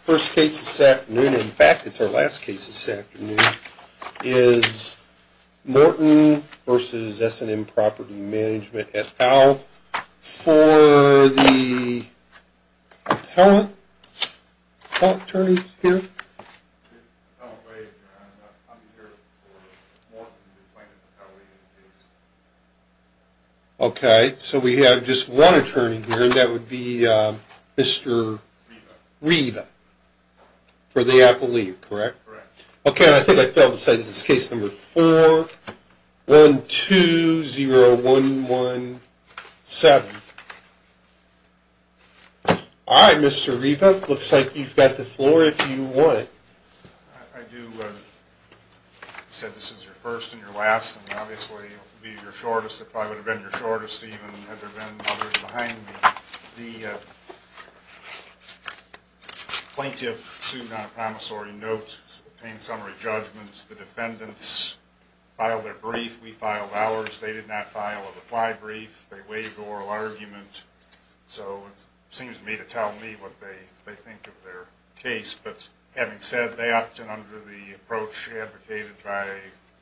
First case this afternoon, in fact it's our last case this afternoon, is Morton v. S&M Property Management at Al for the appellate attorneys here. Okay, so we have just one attorney here and that would be Mr. Riva for the appellate, correct? Correct. Okay, and I think I failed to say this is case number 4120117. All right, Mr. Riva, looks like you've got the floor if you would. I do. You said this is your first and your last and obviously it would be your shortest. It probably would have been your shortest even had there been others behind me. The plaintiff sued on a promissory note, obtained summary judgments, the defendants filed their brief, we filed ours, they did not file a reply brief, they waived the oral argument, so it seems to me to tell me what they think of their case. But having said that, and under the approach advocated by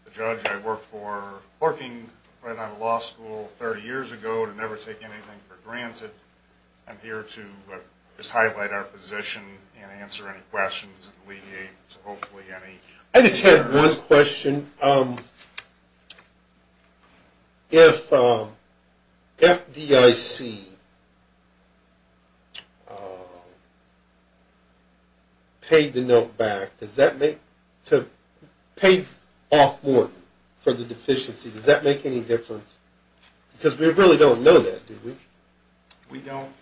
the judge I worked for, working right out of law school 30 years ago to never take anything for granted, I'm here to just highlight our position and answer any questions and alleviate hopefully any concerns. I just had one question. If FDIC paid the note back, paid off Morton for the deficiency, does that make any difference? Because we really don't know that, do we? We don't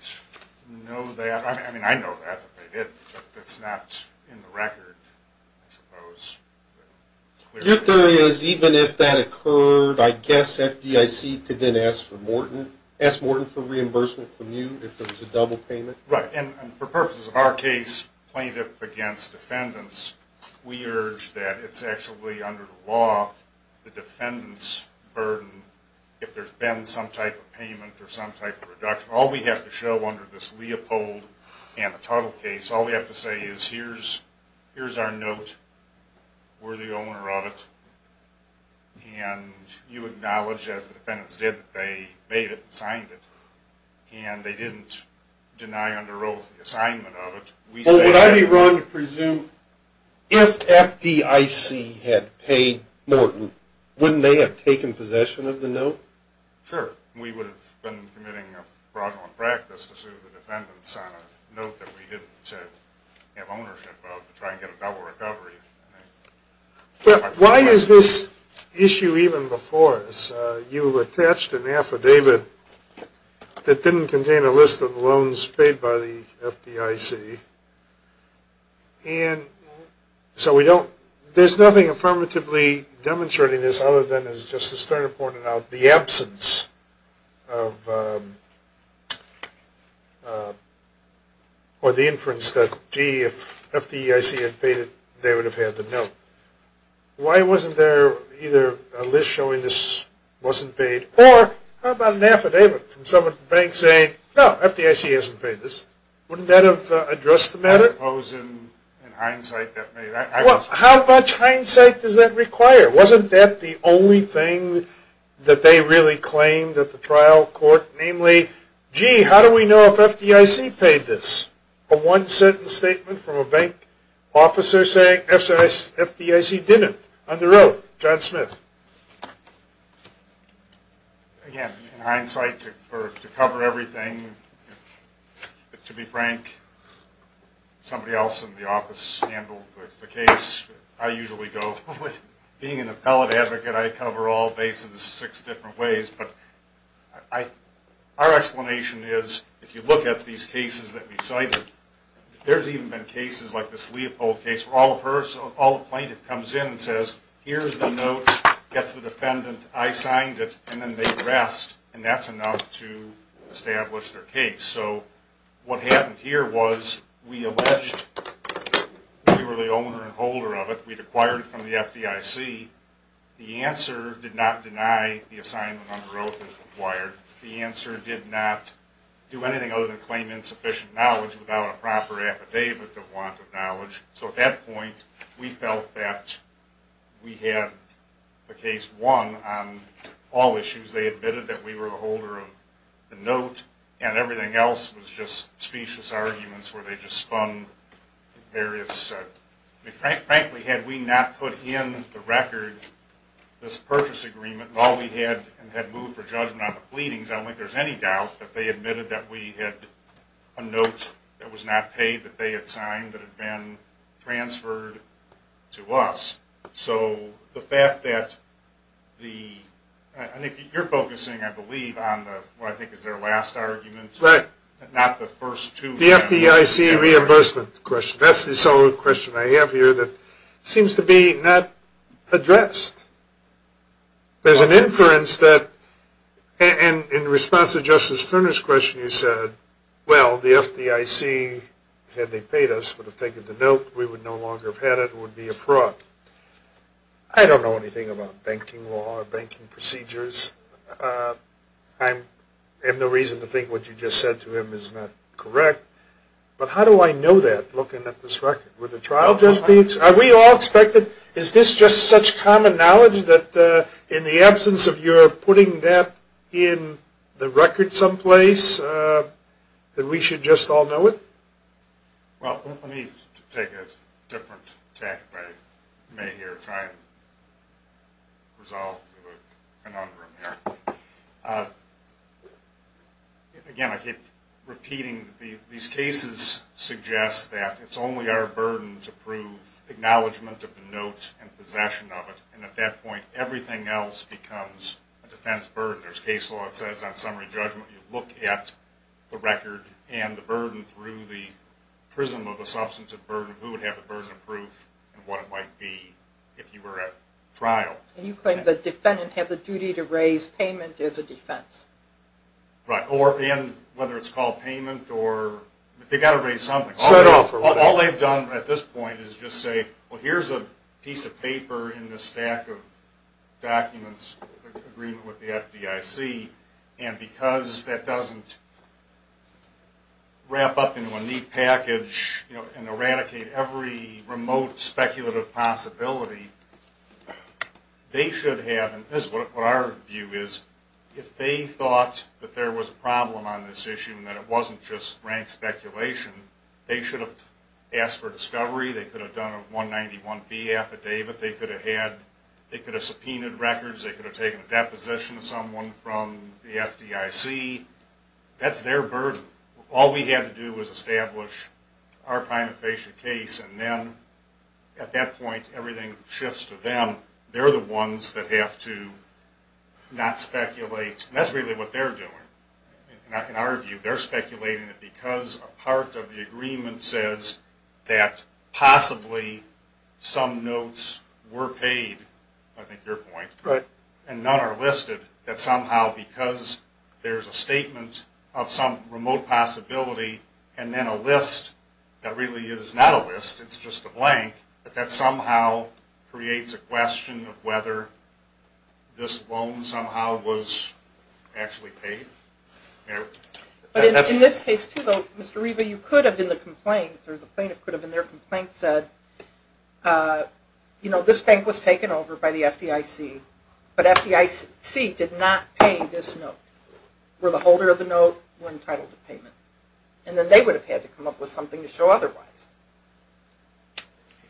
know that. I mean, I know that they did, but it's not in the record, I suppose. Your theory is even if that occurred, I guess FDIC could then ask for Morton, ask Morton for reimbursement from you if there was a double payment? Right, and for purposes of our case, plaintiff against defendants, we urge that it's actually under the law, the defendant's burden, if there's been some type of payment or some type of reduction. All we have to show under this Leopold and the Tuttle case, all we have to say is here's our note, we're the owner of it, and you acknowledge as the defendants did that they made it, signed it, and they didn't deny under oath the assignment of it. Well, would I be wrong to presume if FDIC had paid Morton, wouldn't they have taken possession of the note? Sure. We would have been committing a fraudulent practice to sue the defendants on a note that we didn't have ownership of to try and get a double recovery. But why is this issue even before us? You attached an affidavit that didn't contain a list of loans paid by the FDIC, and so we don't, there's nothing affirmatively demonstrating this other than as Justice Turner pointed out, the absence of, or the inference that, gee, if FDIC had paid it, they would have had the note. Why wasn't there either a list showing this wasn't paid, or how about an affidavit from someone at the bank saying, no, FDIC hasn't paid this. Wouldn't that have addressed the matter? I suppose in hindsight that may have. How much hindsight does that require? Wasn't that the only thing that they really claimed at the trial court? Namely, gee, how do we know if FDIC paid this? A one-sentence statement from a bank officer saying FDIC didn't, under oath, John Smith. Again, in hindsight, to cover everything, to be frank, somebody else in the office handled the case. I usually go with, being an appellate advocate, I cover all bases six different ways. But our explanation is, if you look at these cases that we've cited, there's even been cases like this Leopold case where all the plaintiff comes in and says, here's the note. Gets the defendant. I signed it. And then they rest. And that's enough to establish their case. So what happened here was we alleged we were the owner and holder of it. We'd acquired it from the FDIC. The answer did not deny the assignment under oath was required. The answer did not do anything other than claim insufficient knowledge without a proper affidavit of want of knowledge. So at that point, we felt that we had the case won on all issues. They admitted that we were the holder of the note. And everything else was just specious arguments where they just spun various – frankly, had we not put in the record this purchase agreement, while we had moved for judgment on the pleadings, I don't think there's any doubt that they admitted that we had a note that was not paid, that they had signed, that had been transferred to us. So the fact that the – I think you're focusing, I believe, on what I think is their last argument, not the first two. That's the only question I have here that seems to be not addressed. There's an inference that – and in response to Justice Turner's question, you said, well, the FDIC, had they paid us, would have taken the note. We would no longer have had it. It would be a fraud. I don't know anything about banking law or banking procedures. I have no reason to think what you just said to him is not correct. But how do I know that, looking at this record? Would the trial judge be – are we all expected – is this just such common knowledge that in the absence of your putting that in the record someplace, that we should just all know it? Well, let me take a different tack if I may here, try and resolve the conundrum here. Again, I keep repeating, these cases suggest that it's only our burden to prove acknowledgement of the note and possession of it, and at that point, everything else becomes a defense burden. There's case law that says on summary judgment, you look at the record and the burden through the prism of a substantive burden, who would have the burden of proof, and what it might be if you were at trial. And you claim the defendant had the duty to raise payment as a defense. Right. And whether it's called payment or – they've got to raise something. Set off or whatever. If they thought that there was a problem on this issue and that it wasn't just rank speculation, they should have asked for discovery, they could have done a 191B affidavit, they could have subpoenaed records, they could have taken a deposition of someone from the FDIC. That's their burden. All we had to do was establish our prima facie case, and then at that point, everything shifts to them. They're the ones that have to not speculate, and that's really what they're doing. In our view, they're speculating that because a part of the agreement says that possibly some notes were paid, I think your point, and none are listed, that somehow because there's a statement of some remote possibility, and then a list that really is not a list, it's just a blank, that somehow creates a question of whether this loan somehow was actually paid. In this case, too, though, Mr. Riva, you could have in the complaint, or the plaintiff could have in their complaint said, you know, this bank was taken over by the FDIC, but FDIC did not pay this note. We're the holder of the note, we're entitled to payment. And then they would have had to come up with something to show otherwise.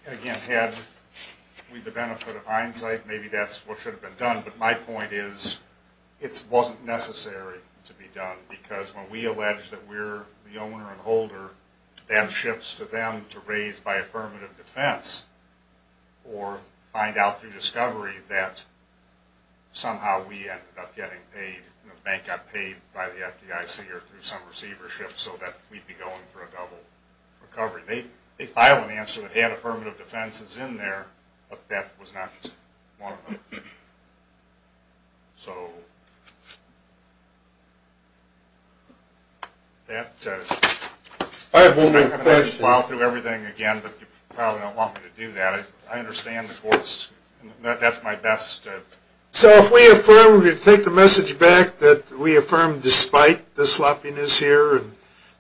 Again, had we the benefit of hindsight, maybe that's what should have been done, but my point is it wasn't necessary to be done, because when we allege that we're the owner and holder, to them to raise by affirmative defense, or find out through discovery that somehow we ended up getting paid and the bank got paid by the FDIC or through some receivership so that we'd be going for a double recovery. They filed an answer that had affirmative defenses in there, but that was not one of them. So... I have one more question. I'm going to plow through everything again, but you probably don't want me to do that. I understand the courts, and that's my best... So if we affirm, we take the message back that we affirm despite the sloppiness here, and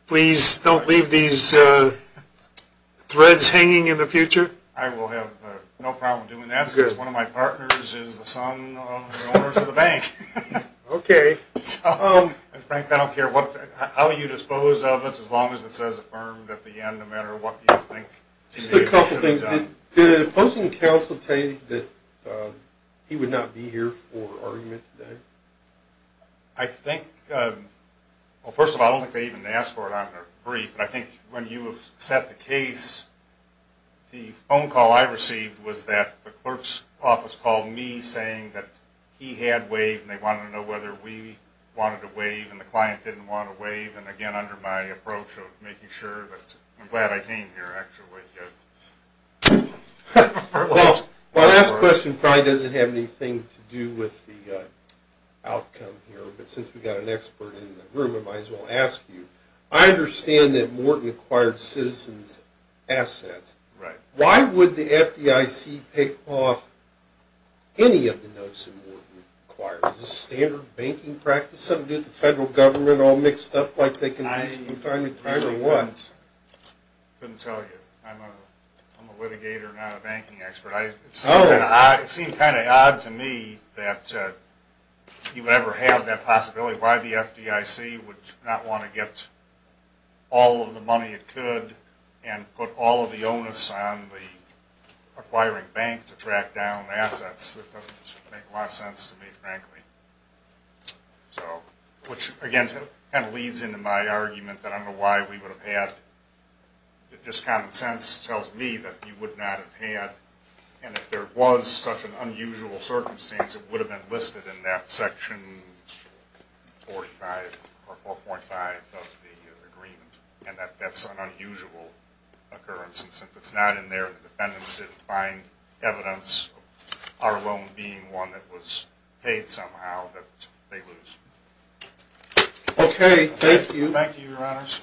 please don't leave these threads hanging in the future? I will have no problem doing that, because one of my partners is the son of the owner of the bank. Okay. And Frank, I don't care how you dispose of it, as long as it says affirmed at the end, no matter what you think. Just a couple things. Did the opposing counsel say that he would not be here for argument today? I think... Well, first of all, I don't think they even asked for it on their brief, but I think when you set the case, the phone call I received was that the clerk's office called me saying that he had waived, and they wanted to know whether we wanted to waive, and the client didn't want to waive, and again, under my approach of making sure that... I'm glad I came here, actually. Well, my last question probably doesn't have anything to do with the outcome here, but since we've got an expert in the room, I might as well ask you. I understand that Morton acquired Citizens Assets. Right. Why would the FDIC pick off any of the notes that Morton acquired? Is this standard banking practice? Something to do with the federal government all mixed up like they can be sometimes acquired or what? I couldn't tell you. I'm a litigator, not a banking expert. It seemed kind of odd to me that you ever had that possibility, why the FDIC would not want to get all of the money it could and put all of the onus on the acquiring bank to track down assets. It doesn't make a lot of sense to me, frankly. Which, again, kind of leads into my argument that I don't know why we would have had... Just common sense tells me that we would not have had, and if there was such an unusual circumstance, it would have been listed in that section 45 or 4.5 of the agreement, and that's an unusual occurrence, and since it's not in there, the defendants didn't find evidence, let alone being one that was paid somehow, that they lose. Okay, thank you. Thank you, your honors.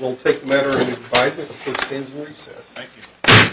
We'll take the matter into advisement. The court stands at recess. Thank you.